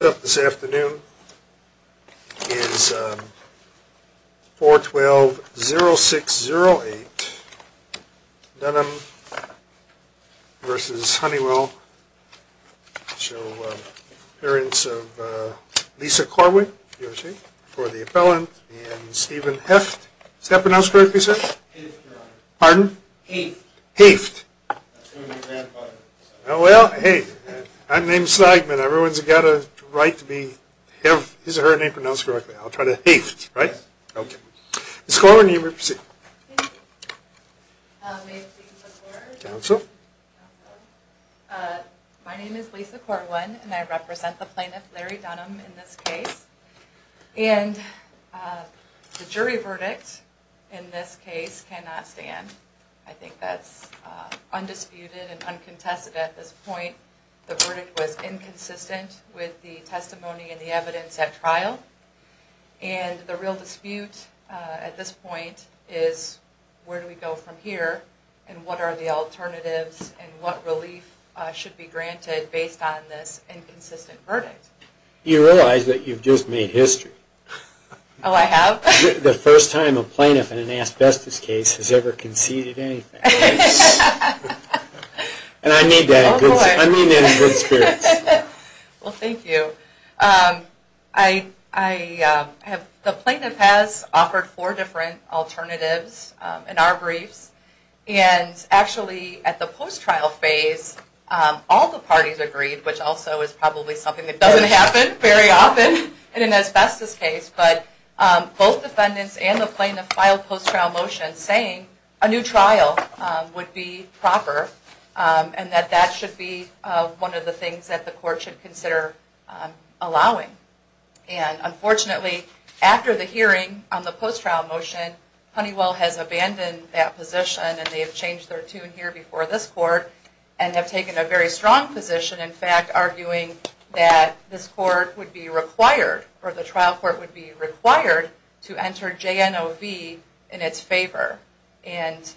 This afternoon is 4-12-0-6-0-8, Dunham v. Honeywell show appearance of Lisa Corwin for the appellant and Stephen Heft. Is that pronounced correctly, sir? Pardon? Heft. Heft. Oh well, hey, I'm named Steigman. Everyone's got a right to be, have his or her name pronounced correctly. I'll try to… Heft. Ok. Mrs. Corwin, you may proceed. Thank you. May I please have the floor? Council? My name is Lisa Corwin, and I represent the plaintiff Larry Dunham in this case, and the jury verdict in this case cannot stand. I think that's undisputed and uncontested at this point. The verdict was inconsistent with the testimony and the evidence at trial, and the real dispute at this point is where do we go from here, and what are the alternatives, and what relief should be granted based on this inconsistent verdict? You realize that you've just made history. Oh, I have? The first time a plaintiff in an asbestos case has ever conceded anything. And I mean that in good spirits. Well thank you. The plaintiff has offered four different alternatives in our briefs, and actually at the post-trial phase, all the parties agreed, which also is probably something that doesn't happen very often in an asbestos case, but both defendants and the plaintiff filed post-trial motions saying a new trial would be proper, and that that should be one of the things that the court should consider allowing. And unfortunately, after the hearing on the post-trial motion, Honeywell has abandoned that position, and they have changed their tune here before this court, and have taken a very strong position, in fact, arguing that this court would be required, or the trial court would be required, to enter JNOV in its favor. And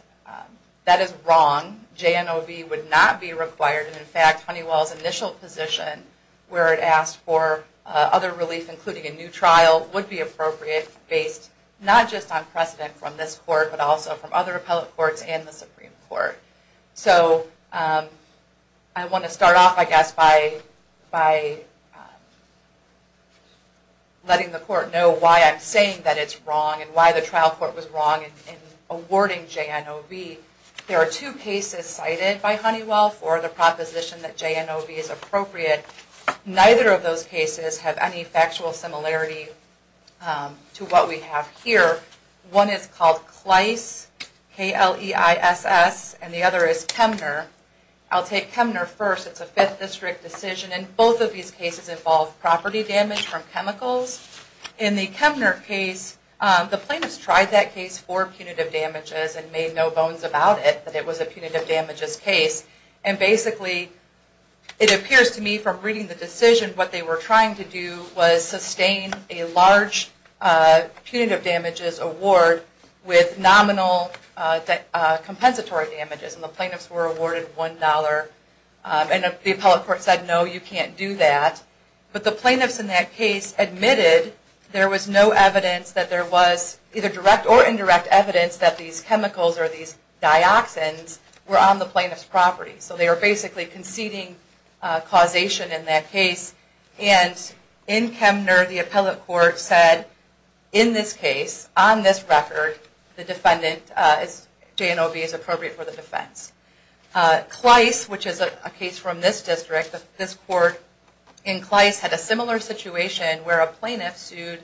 that is wrong, JNOV would not be required, and in fact, Honeywell's initial position where it asked for other relief, including a new trial, would be appropriate based not just on precedent from this court, but also from other appellate courts and the Supreme Court. So I want to start off, I guess, by letting the court know why I'm saying that it's wrong, and why the trial court was wrong in awarding JNOV. There are two cases cited by Honeywell for the proposition that JNOV is appropriate. Neither of those cases have any factual similarity to what we have here. One is called Kleiss, K-L-E-I-S-S, and the other is Kemner. I'll take Kemner first, it's a 5th district decision, and both of these cases involve property damage from chemicals. In the Kemner case, the plaintiffs tried that case for punitive damages, and made no bones about it, that it was a punitive damages case. And basically, it appears to me from reading the decision, what they were trying to do was sustain a large punitive damages award with nominal compensatory damages, and the plaintiffs were awarded $1, and the appellate court said, no, you can't do that. But the plaintiffs in that case admitted there was no evidence that there was either direct or indirect evidence that these chemicals or these dioxins were on the plaintiff's property. So they were basically conceding causation in that case, and in Kemner, the appellate court said, in this case, on this record, the defendant, JNOV, is appropriate for the defense. Kleiss, which is a case from this district, this court in Kleiss had a similar situation where a plaintiff sued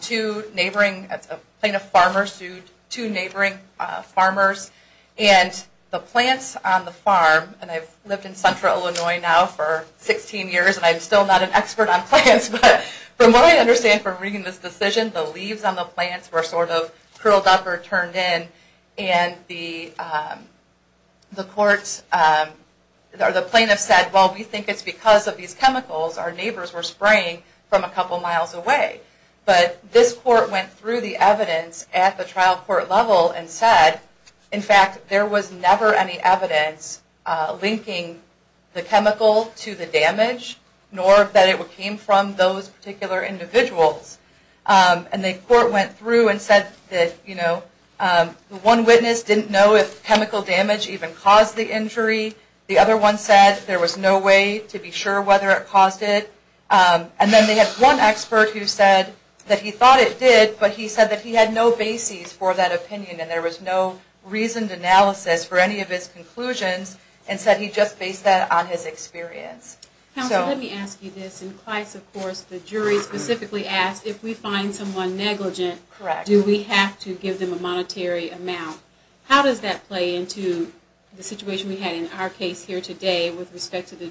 two neighboring, a plaintiff farmer sued two neighboring farmers, and the plants on the farm, and I've lived in central Illinois now for 16 years, and I'm still not an expert on plants, but from what I understand from reading this decision, the leaves on the plants were sort of curled up or turned in, and the courts, or the plaintiffs said, well, we think it's because of these chemicals our neighbors were spraying from a couple miles away. But this court went through the evidence at the trial court level and said, in fact, there was never any evidence linking the chemical to the damage, nor that it came from those particular individuals. And the court went through and said that, you know, one witness didn't know if chemical damage even caused the injury. The other one said there was no way to be sure whether it caused it. And then they had one expert who said that he thought it did, but he said that he had no bases for that opinion, and there was no reasoned analysis for any of his conclusions, and said he just based that on his experience. Counsel, let me ask you this. In Kleiss, of course, the jury specifically asked, if we find someone negligent, do we have to give them a monetary amount? How does that play into the situation we had in our case here today with respect to the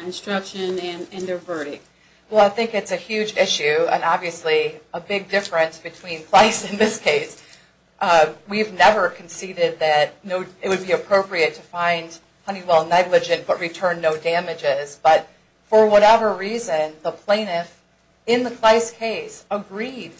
instruction and their verdict? Well, I think it's a huge issue, and obviously a big difference between Kleiss and this case. We've never conceded that it would be appropriate to find Honeywell negligent but return no damages, but for whatever reason, the plaintiff in the Kleiss case agreed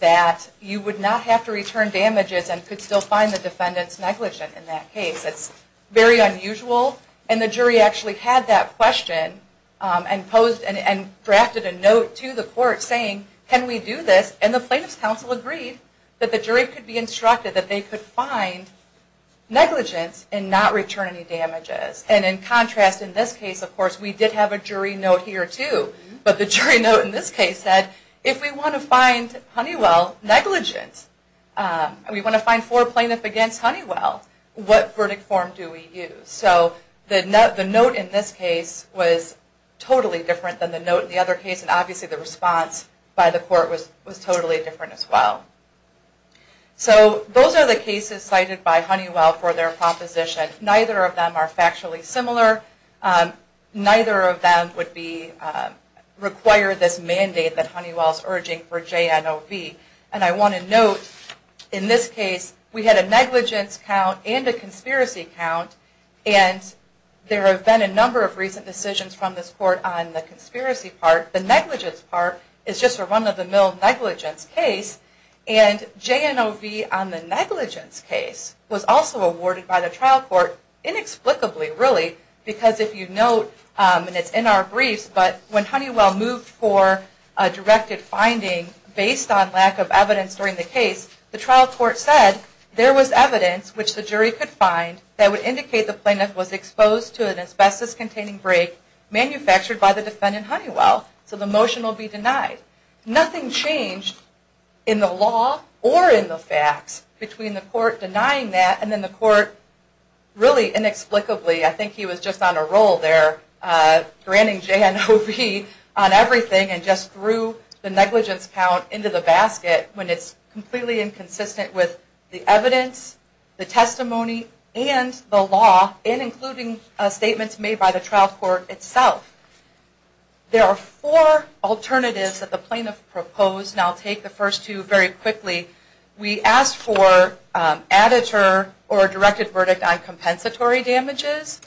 that you would not have to return damages and could still find the defendant's negligent in that case. It's very unusual, and the jury actually had that question and drafted a note to the court saying can we do this, and the plaintiff's counsel agreed that the jury could be instructed that they could find negligence and not return any damages. And in contrast, in this case, of course, we did have a jury note here too, but the jury note in this case said, if we want to find Honeywell negligent, and we want to find four plaintiffs against Honeywell, what verdict form do we use? So the note in this case was totally different than the note in the other case, and obviously the response by the court was totally different as well. So those are the cases cited by Honeywell for their proposition. Neither of them are factually similar. Neither of them would require this mandate that Honeywell is urging for JNOV, and I want to note, in this case, we had a negligence count and a conspiracy count, and there have been a number of recent decisions from this court on the conspiracy part. The negligence part is just for one of the mill negligence case, and JNOV on the negligence case was also awarded by the trial court inexplicably, really, because if you note, and it's in our case, the trial court said, there was evidence, which the jury could find, that would indicate the plaintiff was exposed to an asbestos-containing break manufactured by the defendant, Honeywell, so the motion will be denied. Nothing changed in the law or in the facts between the court denying that and then the court really inexplicably, I think he was just on a roll there, granting JNOV on everything and just threw the negligence count into the basket when it's completely inconsistent with the evidence, the testimony, and the law, and including statements made by the trial court itself. There are four alternatives that the plaintiff proposed, and I'll take the first two very quickly. We asked for additure or a directed verdict on compensatory damages,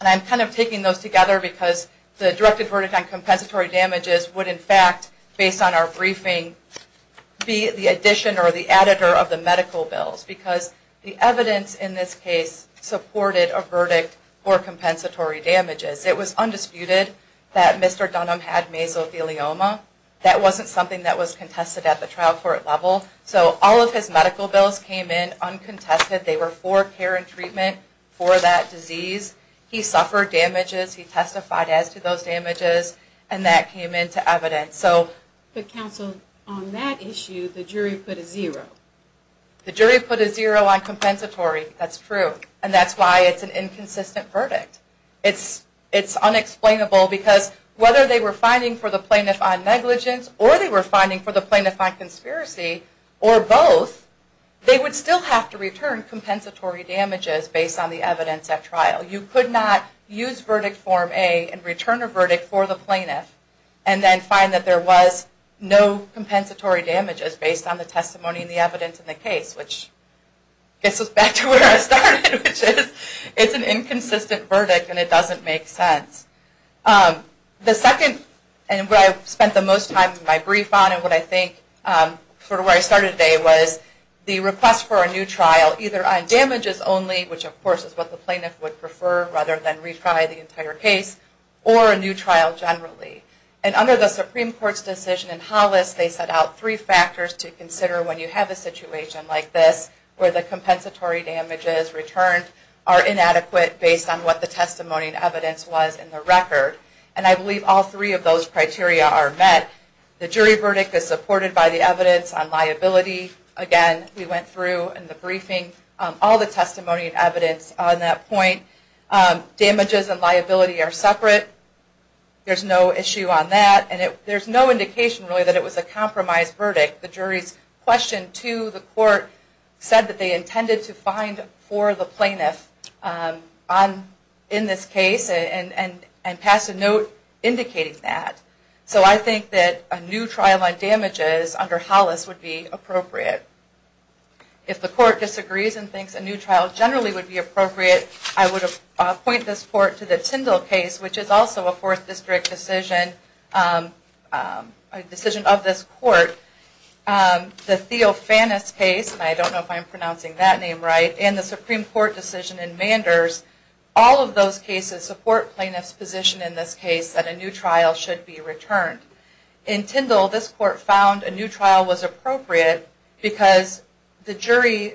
and I'm kind of taking those together because the directed verdict on compensatory damages would, in fact, based on our briefing, be the addition or the additor of the medical bills, because the evidence in this case supported a verdict for compensatory damages. It was undisputed that Mr. Dunham had mesothelioma. That wasn't something that was contested at the trial court level, so all of his medical bills came in uncontested. They were for care and treatment for that disease. He suffered damages. He testified as to those damages, and that came into evidence. So the counsel on that issue, the jury put a zero. The jury put a zero on compensatory. That's true, and that's why it's an inconsistent verdict. It's unexplainable because whether they were finding for the plaintiff on negligence or they were finding for the plaintiff on conspiracy or both, they would still have to return compensatory damages based on the evidence at trial. You could not use verdict form A and return a verdict for the plaintiff and then find that there was no compensatory damages based on the testimony and the evidence in the case, which gets us back to where I started, which is it's an inconsistent verdict and it doesn't make sense. The second, and where I spent the most time in my brief on, and what I think sort of where I started today, was the request for a new trial either on damages only, which of course is what the plaintiff would prefer rather than retry the entire case, or a new trial generally. And under the Supreme Court's decision in Hollis, they set out three factors to consider when you have a situation like this where the compensatory damages returned are inadequate based on what the testimony and evidence was in the record. And I believe all three of those criteria are met. The jury verdict is supported by the evidence on liability. Again, we went through in the briefing all the testimony and evidence on that point. Damages and liability are separate. There's no issue on that. There's no indication really that it was a compromised verdict. The jury's question to the court said that they intended to find for the plaintiff in this case and passed a note indicating that. So I think that a new trial on damages under Hollis would be appropriate. If the court disagrees and thinks a new trial generally would be appropriate, I would appoint this court to the Tyndall case, which is also a Fourth District decision, a decision of this court. The Theofanis case, and I don't know if I'm pronouncing that name right, and the Supreme Court decision in Manders, all of those cases support plaintiff's position in this case that a new trial should be returned. In Tyndall, this court found a new trial was appropriate because the jury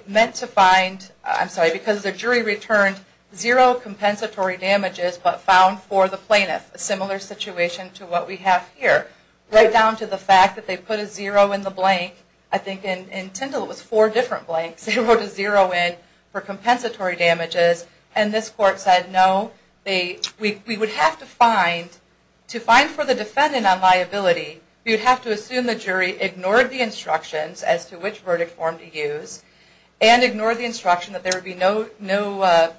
returned zero compensatory damages, but found for the plaintiff a similar situation to what we have here. Right down to the fact that they put a zero in the blank. I think in Tyndall it was four different blanks. They wrote a zero in for compensatory damages. And this court said, no, we would have to find, to find for the defendant on liability, we would have to assume the jury ignored the instructions as to which verdict form to use, and ignored the instruction that there would be no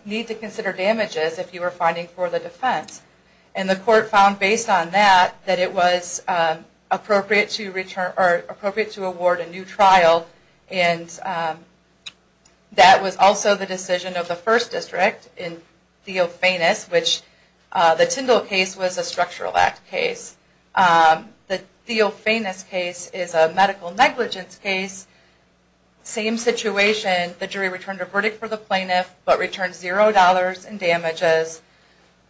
need to consider damages if you were finding for the defense. And the court found based on that, that it was appropriate to award a new trial, and that was also the decision of the First District in Theofanis, which the Tyndall case was a Structural Act case. The Theofanis case is a medical negligence case. Same situation. The jury returned a verdict for the plaintiff, but returned zero dollars in damages.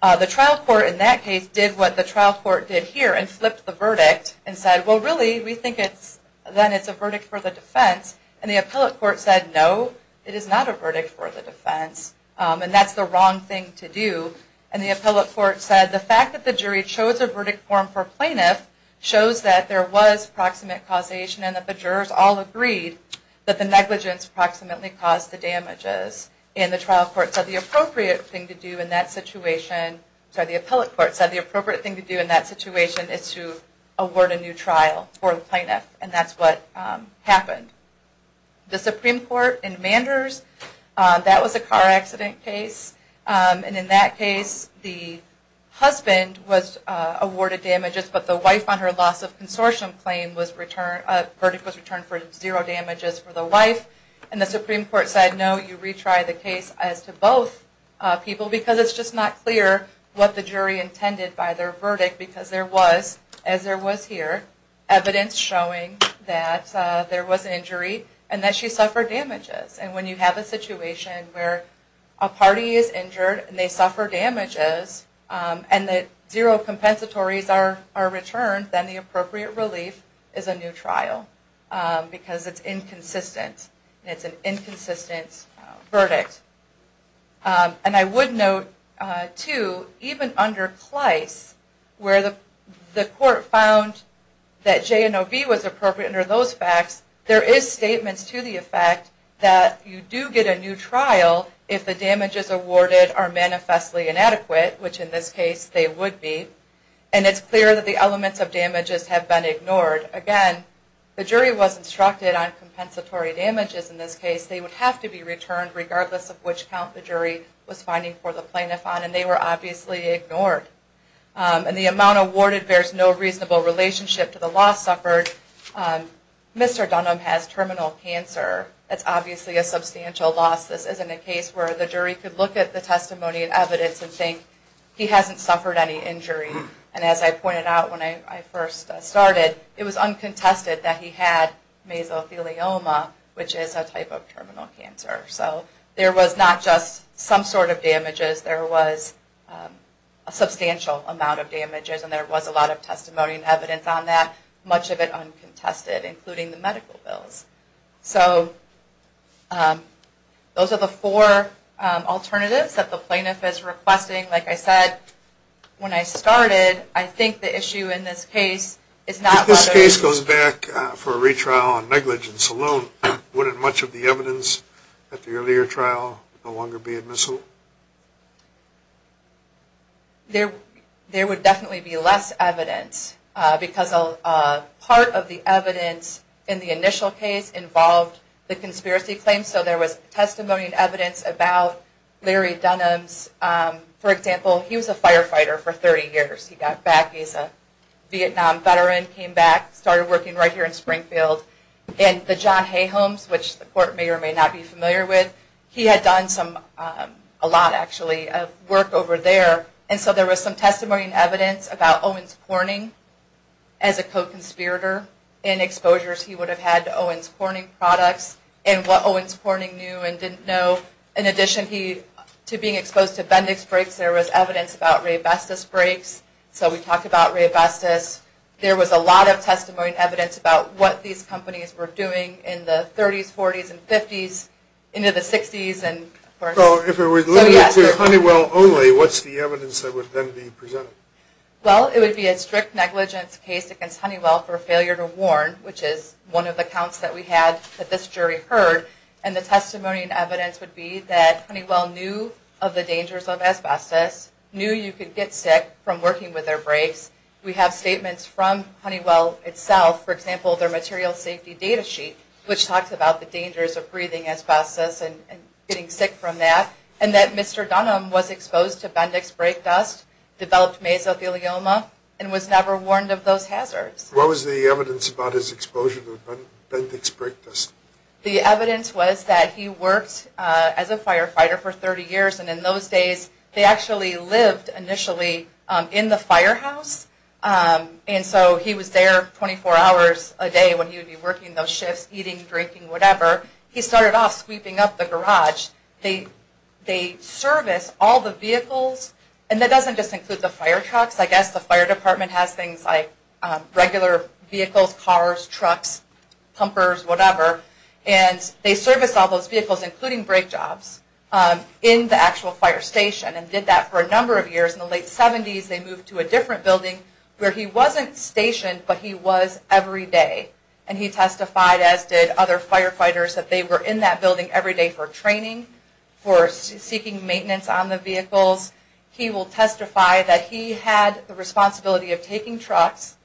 The trial court in that case did what the trial court did here, and flipped the verdict and said, well, really, we think it's, then it's a verdict for the defense. And the appellate court said, no, it is not a verdict for the defense, and that's the wrong thing to do. And the appellate court said, the fact that the jury chose a verdict form for plaintiff shows that there was proximate causation, and that the jurors all agreed that the negligence approximately caused the damages. And the trial court said the appropriate thing to do in that situation, sorry, the appellate court was to award a new trial for the plaintiff, and that's what happened. The Supreme Court in Manders, that was a car accident case, and in that case, the husband was awarded damages, but the wife on her loss of consortium claim was returned, a verdict was returned for zero damages for the wife, and the Supreme Court said, no, you retry the case as to both people, because it's just not clear what the jury intended by their evidence showing that there was an injury, and that she suffered damages. And when you have a situation where a party is injured, and they suffer damages, and that zero compensatories are returned, then the appropriate relief is a new trial. Because it's inconsistent, and it's an inconsistent verdict. And I would note, too, even under Clice, where the court found that JNOV was appropriate under those facts, there is statements to the effect that you do get a new trial if the damages awarded are manifestly inadequate, which in this case, they would be. And it's clear that the elements of damages have been ignored. Again, the jury was instructed on compensatory damages in this case, they would have to be the loss of which count the jury was finding for the plaintiff on, and they were obviously ignored. And the amount awarded bears no reasonable relationship to the loss suffered. Mr. Dunham has terminal cancer, that's obviously a substantial loss. This isn't a case where the jury could look at the testimony and evidence and think, he hasn't suffered any injury. And as I pointed out when I first started, it was uncontested that he had mesothelioma, which is a type of terminal cancer. So there was not just some sort of damages, there was a substantial amount of damages and there was a lot of testimony and evidence on that. Much of it uncontested, including the medical bills. So those are the four alternatives that the plaintiff is requesting. Like I said, when I started, I think the issue in this case is not whether... that the earlier trial would no longer be admissible. There would definitely be less evidence, because part of the evidence in the initial case involved the conspiracy claims. So there was testimony and evidence about Larry Dunham's, for example, he was a firefighter for 30 years. He got back, he's a Vietnam veteran, came back, started working right here in Springfield. And the John Hayhomes, which the court may or may not be familiar with, he had done some, a lot actually, of work over there. And so there was some testimony and evidence about Owens Corning, as a co-conspirator, and exposures he would have had to Owens Corning products, and what Owens Corning knew and didn't know. In addition to being exposed to Bendix breaks, there was evidence about Raybestos breaks. So we talked about Raybestos. There was a lot of testimony and evidence about what these companies were doing in the 30s, 40s, and 50s, into the 60s, and of course... So if it was limited to Honeywell only, what's the evidence that would then be presented? Well, it would be a strict negligence case against Honeywell for failure to warn, which is one of the counts that we had that this jury heard. And the testimony and evidence would be that Honeywell knew of the dangers of asbestos, knew you could get sick from working with their breaks. We have statements from Honeywell itself, for example, their material safety data sheet, which talks about the dangers of breathing asbestos and getting sick from that, and that Mr. Dunham was exposed to Bendix break dust, developed mesothelioma, and was never warned of those hazards. What was the evidence about his exposure to Bendix break dust? The evidence was that he worked as a firefighter for 30 years, and in those days, they actually lived initially in the firehouse, and so he was there 24 hours a day when he would be working those shifts, eating, drinking, whatever. He started off sweeping up the garage. They serviced all the vehicles, and that doesn't just include the fire trucks. I guess the fire department has things like regular vehicles, cars, trucks, pumpers, whatever, and they serviced all those vehicles, including break jobs, in the actual fire station and they did that for a number of years. In the late 70s, they moved to a different building where he wasn't stationed, but he was every day, and he testified, as did other firefighters, that they were in that building every day for training, for seeking maintenance on the vehicles. He will testify that he had the responsibility of taking trucks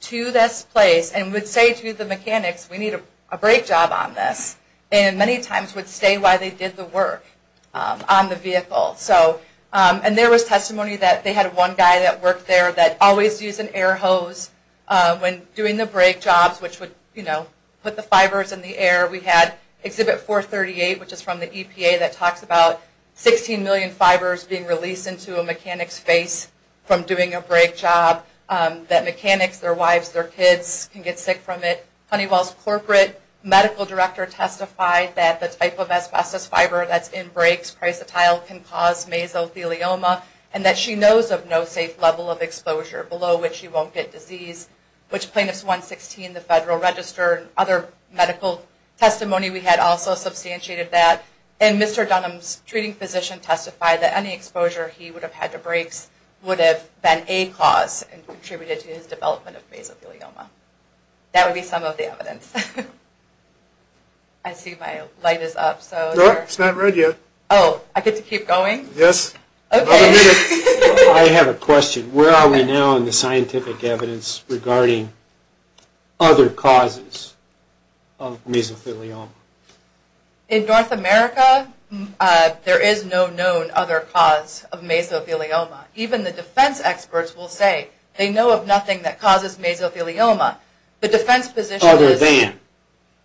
to this place and would say to the mechanics, we need a break job on this, and many times would stay while they did the work on the vehicle. And there was testimony that they had one guy that worked there that always used an air hose when doing the break jobs, which would put the fibers in the air. We had Exhibit 438, which is from the EPA, that talks about 16 million fibers being released into a mechanic's face from doing a break job that mechanics, their wives, their kids can get sick from it. Honeywell's corporate medical director testified that the type of asbestos fiber that's in there would cause mesothelioma, and that she knows of no safe level of exposure below which she won't get disease, which plaintiff's 116, the Federal Register, and other medical testimony we had also substantiated that. And Mr. Dunham's treating physician testified that any exposure he would have had to breaks would have been a cause and contributed to his development of mesothelioma. That would be some of the evidence. I see my light is up, so... Nope, it's not ready yet. Oh, I get to keep going? Yes. Okay. I have a question. Where are we now in the scientific evidence regarding other causes of mesothelioma? In North America, there is no known other cause of mesothelioma. Even the defense experts will say they know of nothing that causes mesothelioma. The defense position is... Other than?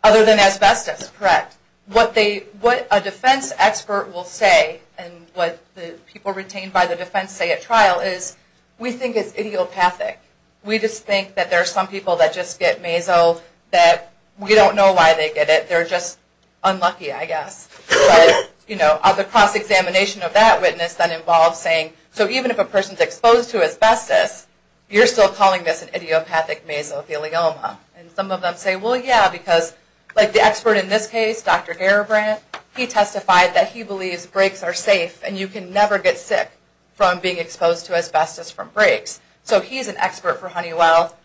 Other than asbestos, correct. What a defense expert will say, and what the people retained by the defense say at trial is, we think it's idiopathic. We just think that there are some people that just get meso that we don't know why they get it, they're just unlucky, I guess. But, you know, the cross-examination of that witness then involves saying, so even if a person's exposed to asbestos, you're still calling this an idiopathic mesothelioma. And some of them say, well, yeah, because like the expert in this case, Dr. Garibrandt, he testified that he believes breaks are safe and you can never get sick from being exposed to asbestos from breaks. So he's an expert for Honeywell.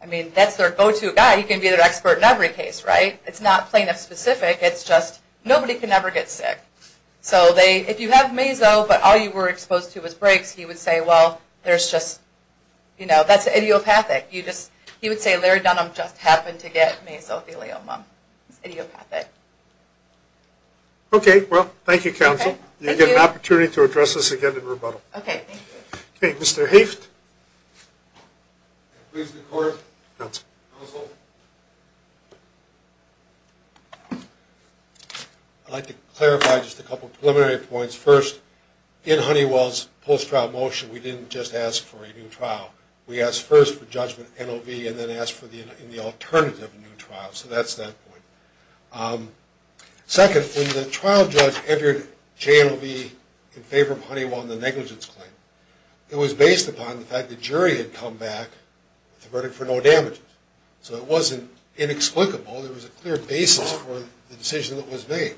I mean, that's their go-to guy. He can be their expert in every case, right? It's not plaintiff-specific, it's just nobody can ever get sick. So if you have meso, but all you were exposed to was breaks, he would say, well, there's just, you know, that's idiopathic. He would say, Larry Dunham just happened to get mesothelioma. It's idiopathic. Okay, well, thank you, counsel. You get an opportunity to address this again in rebuttal. Okay, thank you. Okay, Mr. Haift. Please, the court. Counsel. Counsel. I'd like to clarify just a couple preliminary points. First, in Honeywell's post-trial motion, we didn't just ask for a new trial. We asked first for judgment NOV and then asked for the alternative new trial. So that's that point. Second, when the trial judge entered JNOV in favor of Honeywell on the negligence claim, it was based upon the fact the jury had come back with a verdict for no damages. So it wasn't inexplicable. There was a clear basis for the decision that was made.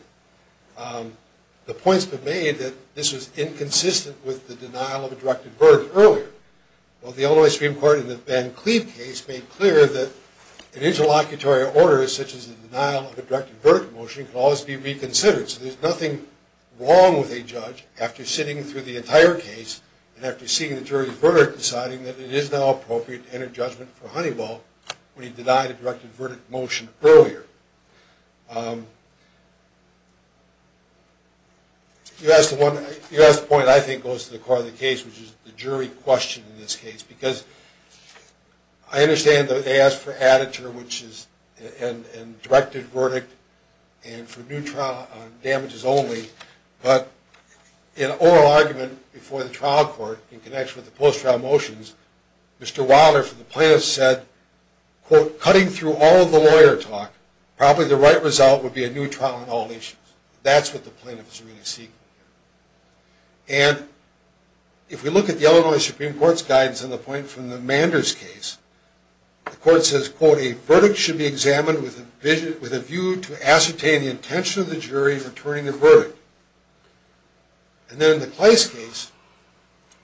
The point's been made that this was inconsistent with the denial of a directed verdict earlier. Well, the Illinois Supreme Court in the Ben Cleave case made clear that an interlocutory order such as a denial of a directed verdict motion can always be reconsidered. So there's nothing wrong with a judge, after sitting through the entire case, and after seeing the jury's verdict, deciding that it is now appropriate to enter judgment for Honeywell when he denied a directed verdict motion earlier. You asked the point I think goes to the core of the case, which is the jury question in this case. Because I understand that they asked for additure, which is a directed verdict, and for new trial on damages only. But in oral argument before the trial court in connection with the post-trial motions, Mr. Wilder from the plaintiffs said, quote, cutting through all of the lawyer talk, probably the right result would be a new trial on all issues. That's what the plaintiff is really seeking. And if we look at the Illinois Supreme Court's guidance on the point from the Manders case, the court says, quote, a verdict should be examined with a view to ascertain the intention of the jury in returning the verdict. And then in the Kleist case,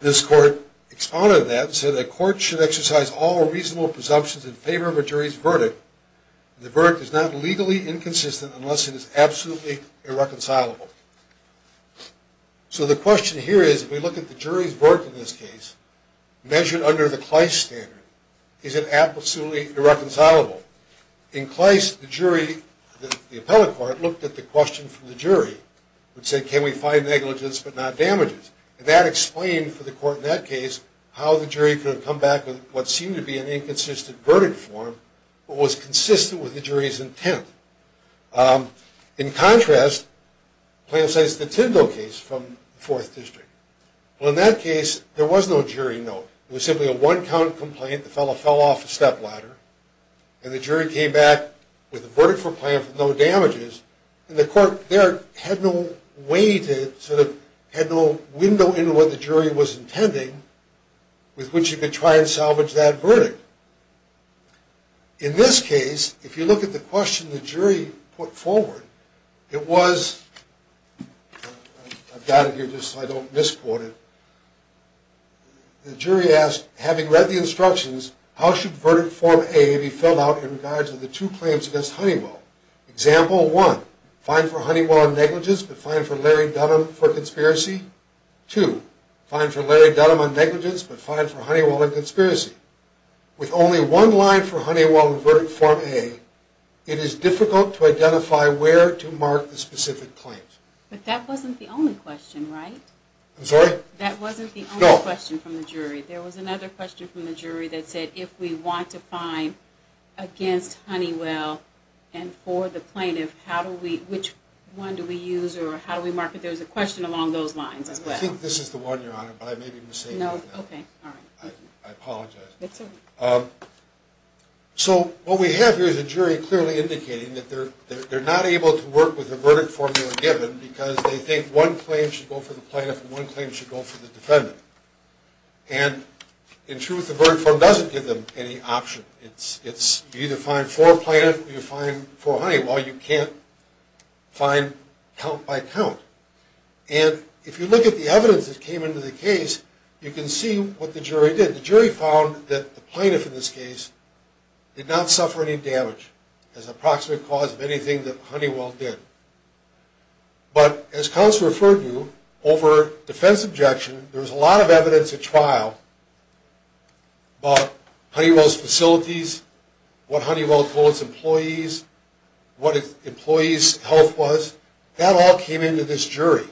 this court expounded that, and said a court should exercise all reasonable presumptions in favor of a jury's verdict. The verdict is not legally inconsistent unless it is absolutely irreconcilable. So the question here is, if we look at the jury's verdict in this case, measured under the Kleist standard, is it absolutely irreconcilable? In Kleist, the jury, the appellate court, looked at the question from the jury, which said, can we find negligence but not damages? And that explained for the court in that case how the jury could have come back with what seemed to be an inconsistent verdict form, but was consistent with the jury's intent. In contrast, the plaintiff says the Tyndall case from the Fourth District. Well, in that case, there was no jury note. It was simply a one-count complaint. The fellow fell off a stepladder. And the jury came back with a verdict for the plaintiff with no damages. And the court there had no window into what the jury was intending, with which you could try and salvage that verdict. In this case, if you look at the question the jury put forward, it was, I've got it here just so I don't misquote it. The jury asked, having read the instructions, how should verdict form A be filled out in regards to the two claims against Honeywell? Example one, fine for Honeywell on negligence, but fine for Larry Dunham for conspiracy. Two, fine for Larry Dunham on negligence, but fine for Honeywell on conspiracy. With only one line for Honeywell in verdict form A, it is difficult to identify where to mark the specific claims. But that wasn't the only question, right? I'm sorry? That wasn't the only question from the jury. There was another question from the jury that said, if we want a fine against Honeywell and for the plaintiff, which one do we use or how do we mark it? There's a question along those lines as well. I think this is the one, Your Honor, but I may be mistaken. No, okay, all right. I apologize. That's all right. So what we have here is a jury clearly indicating that they're not able to work with the verdict form they were given because they think one claim should go for the plaintiff and one claim should go for the defendant. And in truth, the verdict form doesn't give them any option. You either find for plaintiff or you find for Honeywell. You can't find count by count. And if you look at the evidence that came into the case, you can see what the jury did. The jury found that the plaintiff in this case did not suffer any damage as an approximate cause of anything that Honeywell did. But as counsel referred to, over defense objection, there was a lot of evidence at trial about Honeywell's facilities, what Honeywell told its employees, what its employees' health was. That all came into this jury.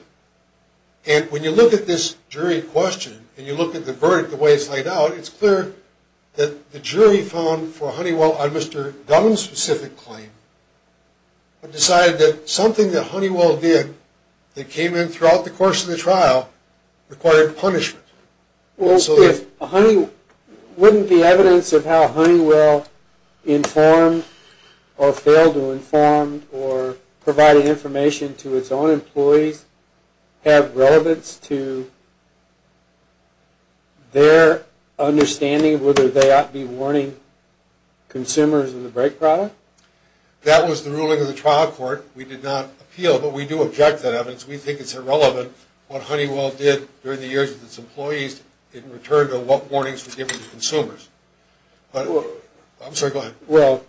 And when you look at this jury question and you look at the verdict the way it's laid out, it's clear that the jury found for Honeywell a Mr. Dunn specific claim but decided that something that Honeywell did that came in throughout the course of the trial required punishment. Wouldn't the evidence of how Honeywell informed or failed to inform or provided information to its own employees have relevance to their understanding of whether they ought to be warning consumers of the brake product? That was the ruling of the trial court. We did not appeal, but we do object to that evidence. We think it's irrelevant what Honeywell did during the years of its employees in return to what warnings were given to consumers. I'm sorry, go ahead.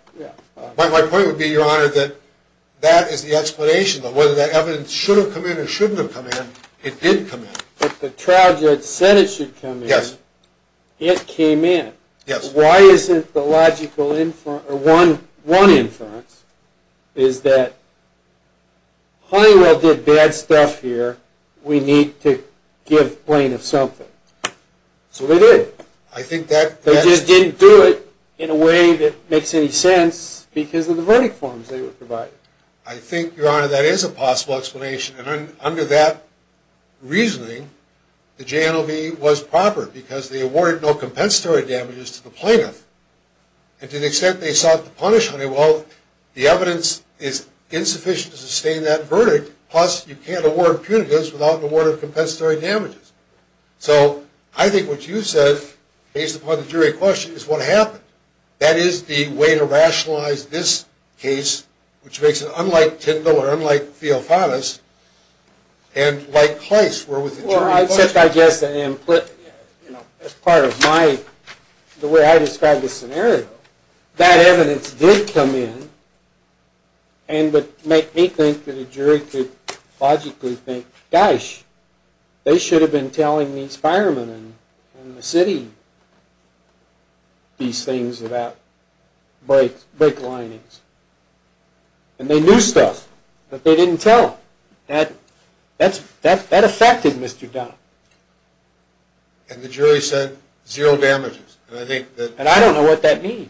My point would be, Your Honor, that that is the explanation of whether that evidence should have come in or shouldn't have come in. It did come in. But the trial judge said it should come in. Yes. It came in. Yes. Why isn't the logical inference, or one inference, is that Honeywell did bad stuff here. We need to give plaintiff something. So they did. I think that's... They just didn't do it in a way that makes any sense because of the verdict forms they were provided. I think, Your Honor, that is a possible explanation. And under that reasoning, the JNLV was proper because they awarded no compensatory damages to the plaintiff. And to the extent they sought to punish Honeywell, the evidence is insufficient to sustain that verdict. Plus, you can't award punitives without an award of compensatory damages. So I think what you said, based upon the jury question, is what happened. That is the way to rationalize this case, which makes it unlike Tyndall or unlike Theofanis, and likewise where with the jury question. Well, I guess, as part of my... the way I described the scenario, that evidence did come in and would make me think that a jury could logically think, gosh, they should have been telling these firemen in the city these things about brake linings. And they knew stuff, but they didn't tell. That affected Mr. Dunn. And the jury said zero damages. And I don't know what that means.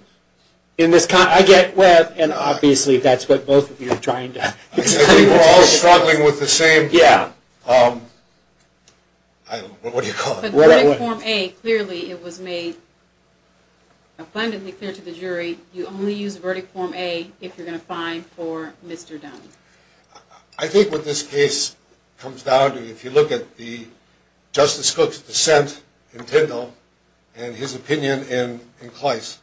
I get where, and obviously that's what both of you are trying to... I think we're all struggling with the same... Yeah. What do you call it? The verdict form A, clearly it was made abundantly clear to the jury you only use verdict form A if you're going to fine for Mr. Dunn. I think what this case comes down to, if you look at Justice Cook's dissent in Tyndall and his opinion in Clice,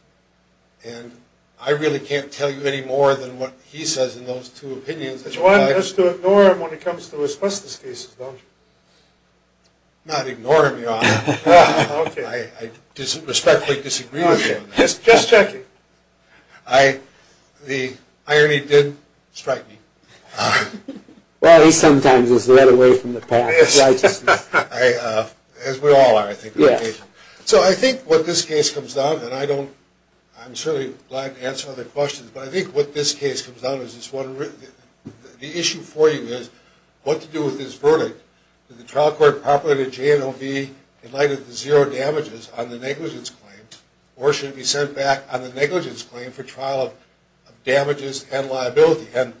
and I really can't tell you any more than what he says in those two opinions. But you want us to ignore him when it comes to his justice cases, don't you? I'm not ignoring him, Your Honor. Okay. I respectfully disagree with you on that. Just checking. The irony did strike me. Well, he sometimes is led away from the path of righteousness. As we all are, I think, on occasion. So I think what this case comes down to, and I'm certainly glad to answer other questions, but I think what this case comes down to is this one. The issue for you is what to do with this verdict. Did the trial court proclaim that J&O be in light of the zero damages on the negligence claim, or should it be sent back on the negligence claim for trial of damages and liability? And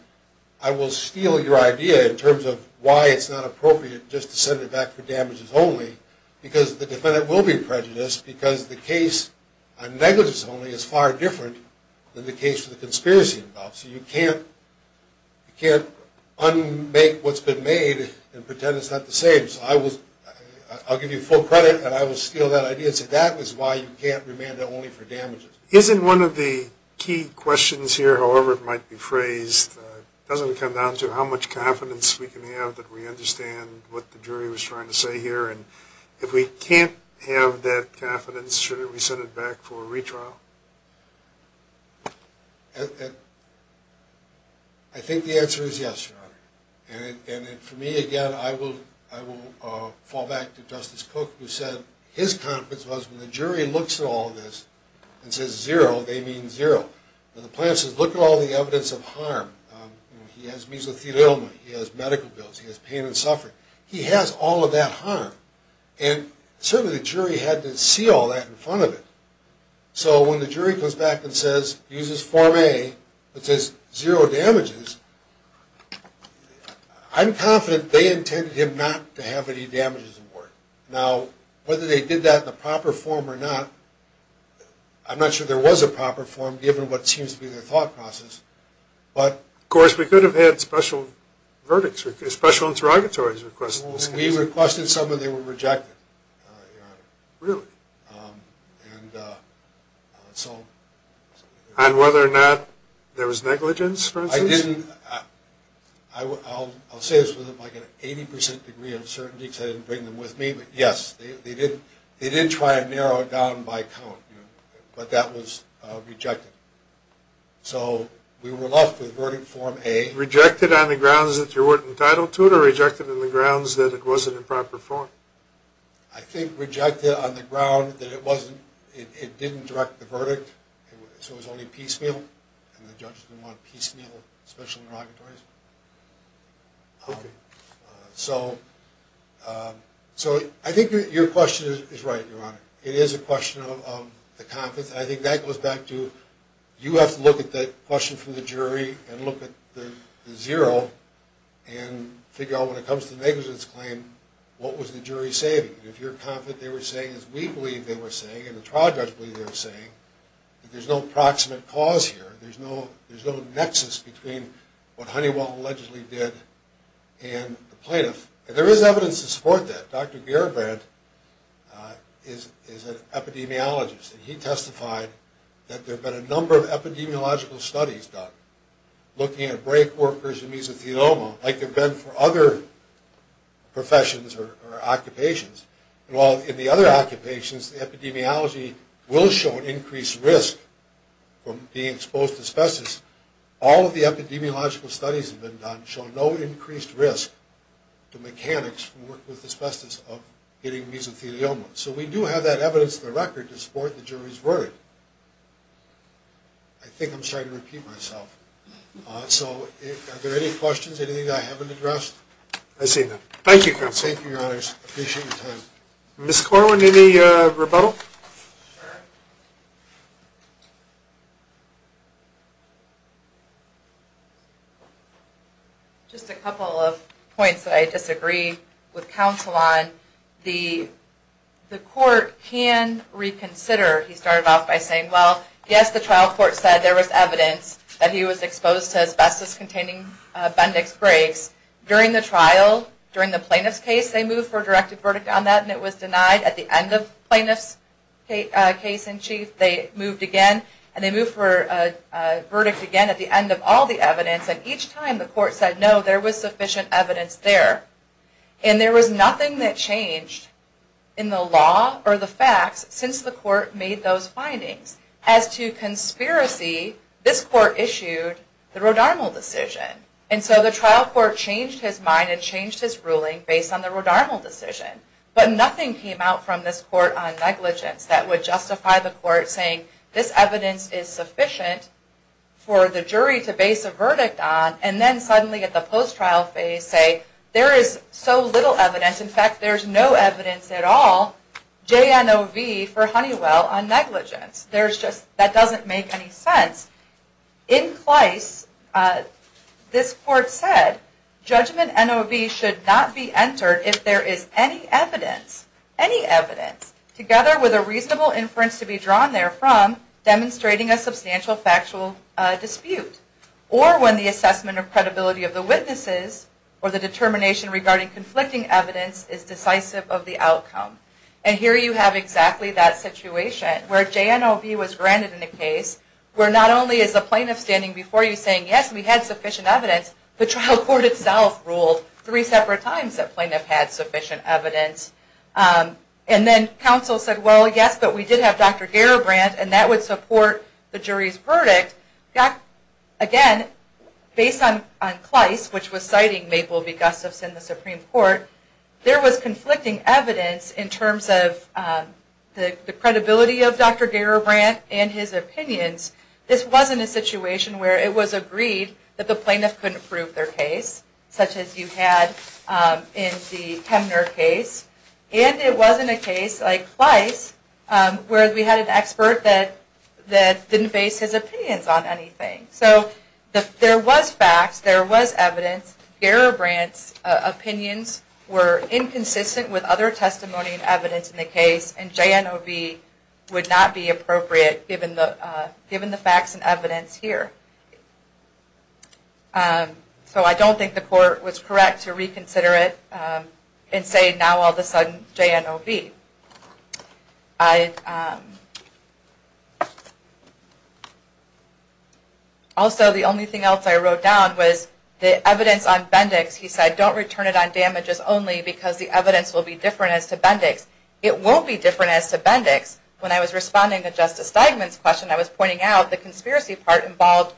I will steal your idea in terms of why it's not appropriate just to send it back for damages only, because the defendant will be prejudiced because the case on negligence only is far different than the case for the conspiracy involved. So you can't unmake what's been made and pretend it's not the same. I'll give you full credit, and I will steal that idea and say that is why you can't remand it only for damages. Isn't one of the key questions here, however it might be phrased, doesn't come down to how much confidence we can have that we understand what the jury was trying to say here, and if we can't have that confidence, should we send it back for a retrial? I think the answer is yes, Your Honor. And for me, again, I will fall back to Justice Cook, who said his confidence was when the jury looks at all this and says zero, they mean zero. When the plaintiff says, look at all the evidence of harm, he has mesothelioma, he has medical bills, he has pain and suffering, he has all of that harm. And certainly the jury had to see all that in front of it. So when the jury comes back and says, uses Form A that says zero damages, I'm confident they intended him not to have any damages in court. Now, whether they did that in a proper form or not, I'm not sure there was a proper form, given what seems to be their thought process. Of course, we could have had special verdicts, special interrogatories requested. We requested some and they were rejected, Your Honor. Really? And so... And whether or not there was negligence, for instance? I didn't... I'll say this with like an 80% degree of certainty because I didn't bring them with me, but yes, they did try and narrow it down by count, but that was rejected. So we were left with verdict Form A. Rejected on the grounds that you weren't entitled to it or rejected on the grounds that it wasn't in proper form? I think rejected on the ground that it wasn't... it didn't direct the verdict. So it was only piecemeal, and the judges didn't want piecemeal special interrogatories. Okay. So... So I think your question is right, Your Honor. It is a question of the confidence, and I think that goes back to, you have to look at the question from the jury and look at the zero and figure out when it comes to negligence claim, what was the jury saying? If you're confident they were saying as we believe they were saying and the trial judge believed they were saying, that there's no proximate cause here, there's no nexus between what Honeywell allegedly did and the plaintiff. And there is evidence to support that. Dr. Gerbrandt is an epidemiologist, and he testified that there have been a number of epidemiological studies done looking at brake workers and mesothelioma like there have been for other professions or occupations. And while in the other occupations, the epidemiology will show an increased risk from being exposed to asbestos, all of the epidemiological studies have been done showing no increased risk to mechanics who work with asbestos of getting mesothelioma. So we do have that evidence in the record to support the jury's verdict. I think I'm starting to repeat myself. So are there any questions, anything I haven't addressed? I see none. Thank you. Thank you, Your Honors. I appreciate your time. Ms. Corwin, any rebuttal? Sure. Just a couple of points that I disagree with counsel on. The court can reconsider. He started off by saying, well, yes, the trial court said there was evidence that he was exposed to asbestos-containing Bendix brakes. During the trial, during the plaintiff's case, they moved for a directed verdict on that, and it was denied. At the end of the plaintiff's case in chief, they moved again, and they moved for a verdict again at the end of all the evidence. And each time the court said no, there was sufficient evidence there. And there was nothing that changed in the law or the facts since the court made those findings as to conspiracy, this court issued the Rodarmal decision. And so the trial court changed his mind and changed his ruling based on the Rodarmal decision. But nothing came out from this court on negligence that would justify the court saying, this evidence is sufficient for the jury to base a verdict on, and then suddenly at the post-trial phase say, there is so little evidence, in fact, there's no evidence at all, JNOV for Honeywell on negligence. That doesn't make any sense. In Kleiss, this court said, judgment NOV should not be entered if there is any evidence, any evidence, together with a reasonable inference to be drawn there from, demonstrating a substantial factual dispute, or when the assessment of credibility of the witnesses or the determination regarding conflicting evidence is decisive of the outcome. And here you have exactly that situation, where JNOV was granted in a case where not only is the plaintiff standing before you saying, yes, we had sufficient evidence, the trial court itself ruled three separate times that plaintiff had sufficient evidence. And then counsel said, well, yes, but we did have Dr. Garibrand, and that would support the jury's verdict. Again, based on Kleiss, which was citing Maple v. Gustafson, the Supreme Court, there was conflicting evidence in terms of the credibility of Dr. Garibrand and his opinions. This wasn't a situation where it was agreed that the plaintiff couldn't prove their case, such as you had in the Hemner case. And it wasn't a case like Kleiss, where we had an expert that didn't base his opinions on anything. So there was facts, there was evidence. Garibrand's opinions were inconsistent with other testimony and evidence in the case, and JNOV would not be appropriate given the facts and evidence here. So I don't think the court was correct to reconsider it and say, now all of a sudden, JNOV. Also, the only thing else I wrote down was the evidence on Bendix. He said, don't return it on damages only because the evidence will be different as to Bendix. It won't be different as to Bendix. When I was responding to Justice Steigman's question, I was pointing out the conspiracy part involved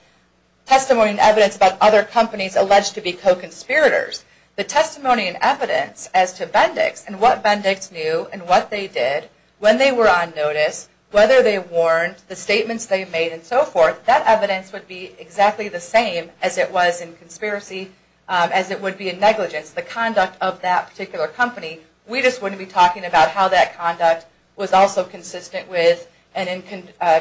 testimony and evidence about other companies alleged to be co-conspirators. The testimony and evidence as to Bendix and what Bendix knew and what they did when they were on notice, whether they warned, the statements they made and so forth, that evidence would be exactly the same as it was in conspiracy, as it would be in negligence. The conduct of that particular company, we just wouldn't be talking about how that conduct was also consistent with and in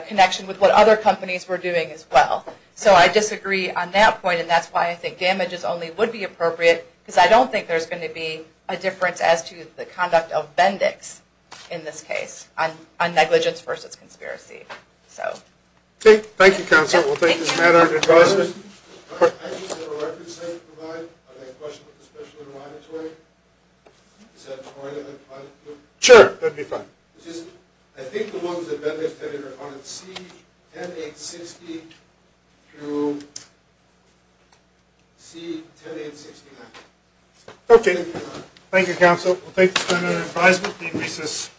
connection with what other companies were doing as well. So I disagree on that point, and that's why I think damages only would be appropriate because I don't think there's going to be a difference as to the conduct of Bendix in this case on negligence versus conspiracy. Thank you, Counselor. We'll take this matter to Justice. I just have a reference I'd like to provide. I have a question with the Special Envoy on its way. Is that all right if I put it here? Sure, that'd be fine. I think the ones that Bendix did are on C-10860 through C-10869. Okay. Thank you, Counsel. We'll take this matter under advisable decreases.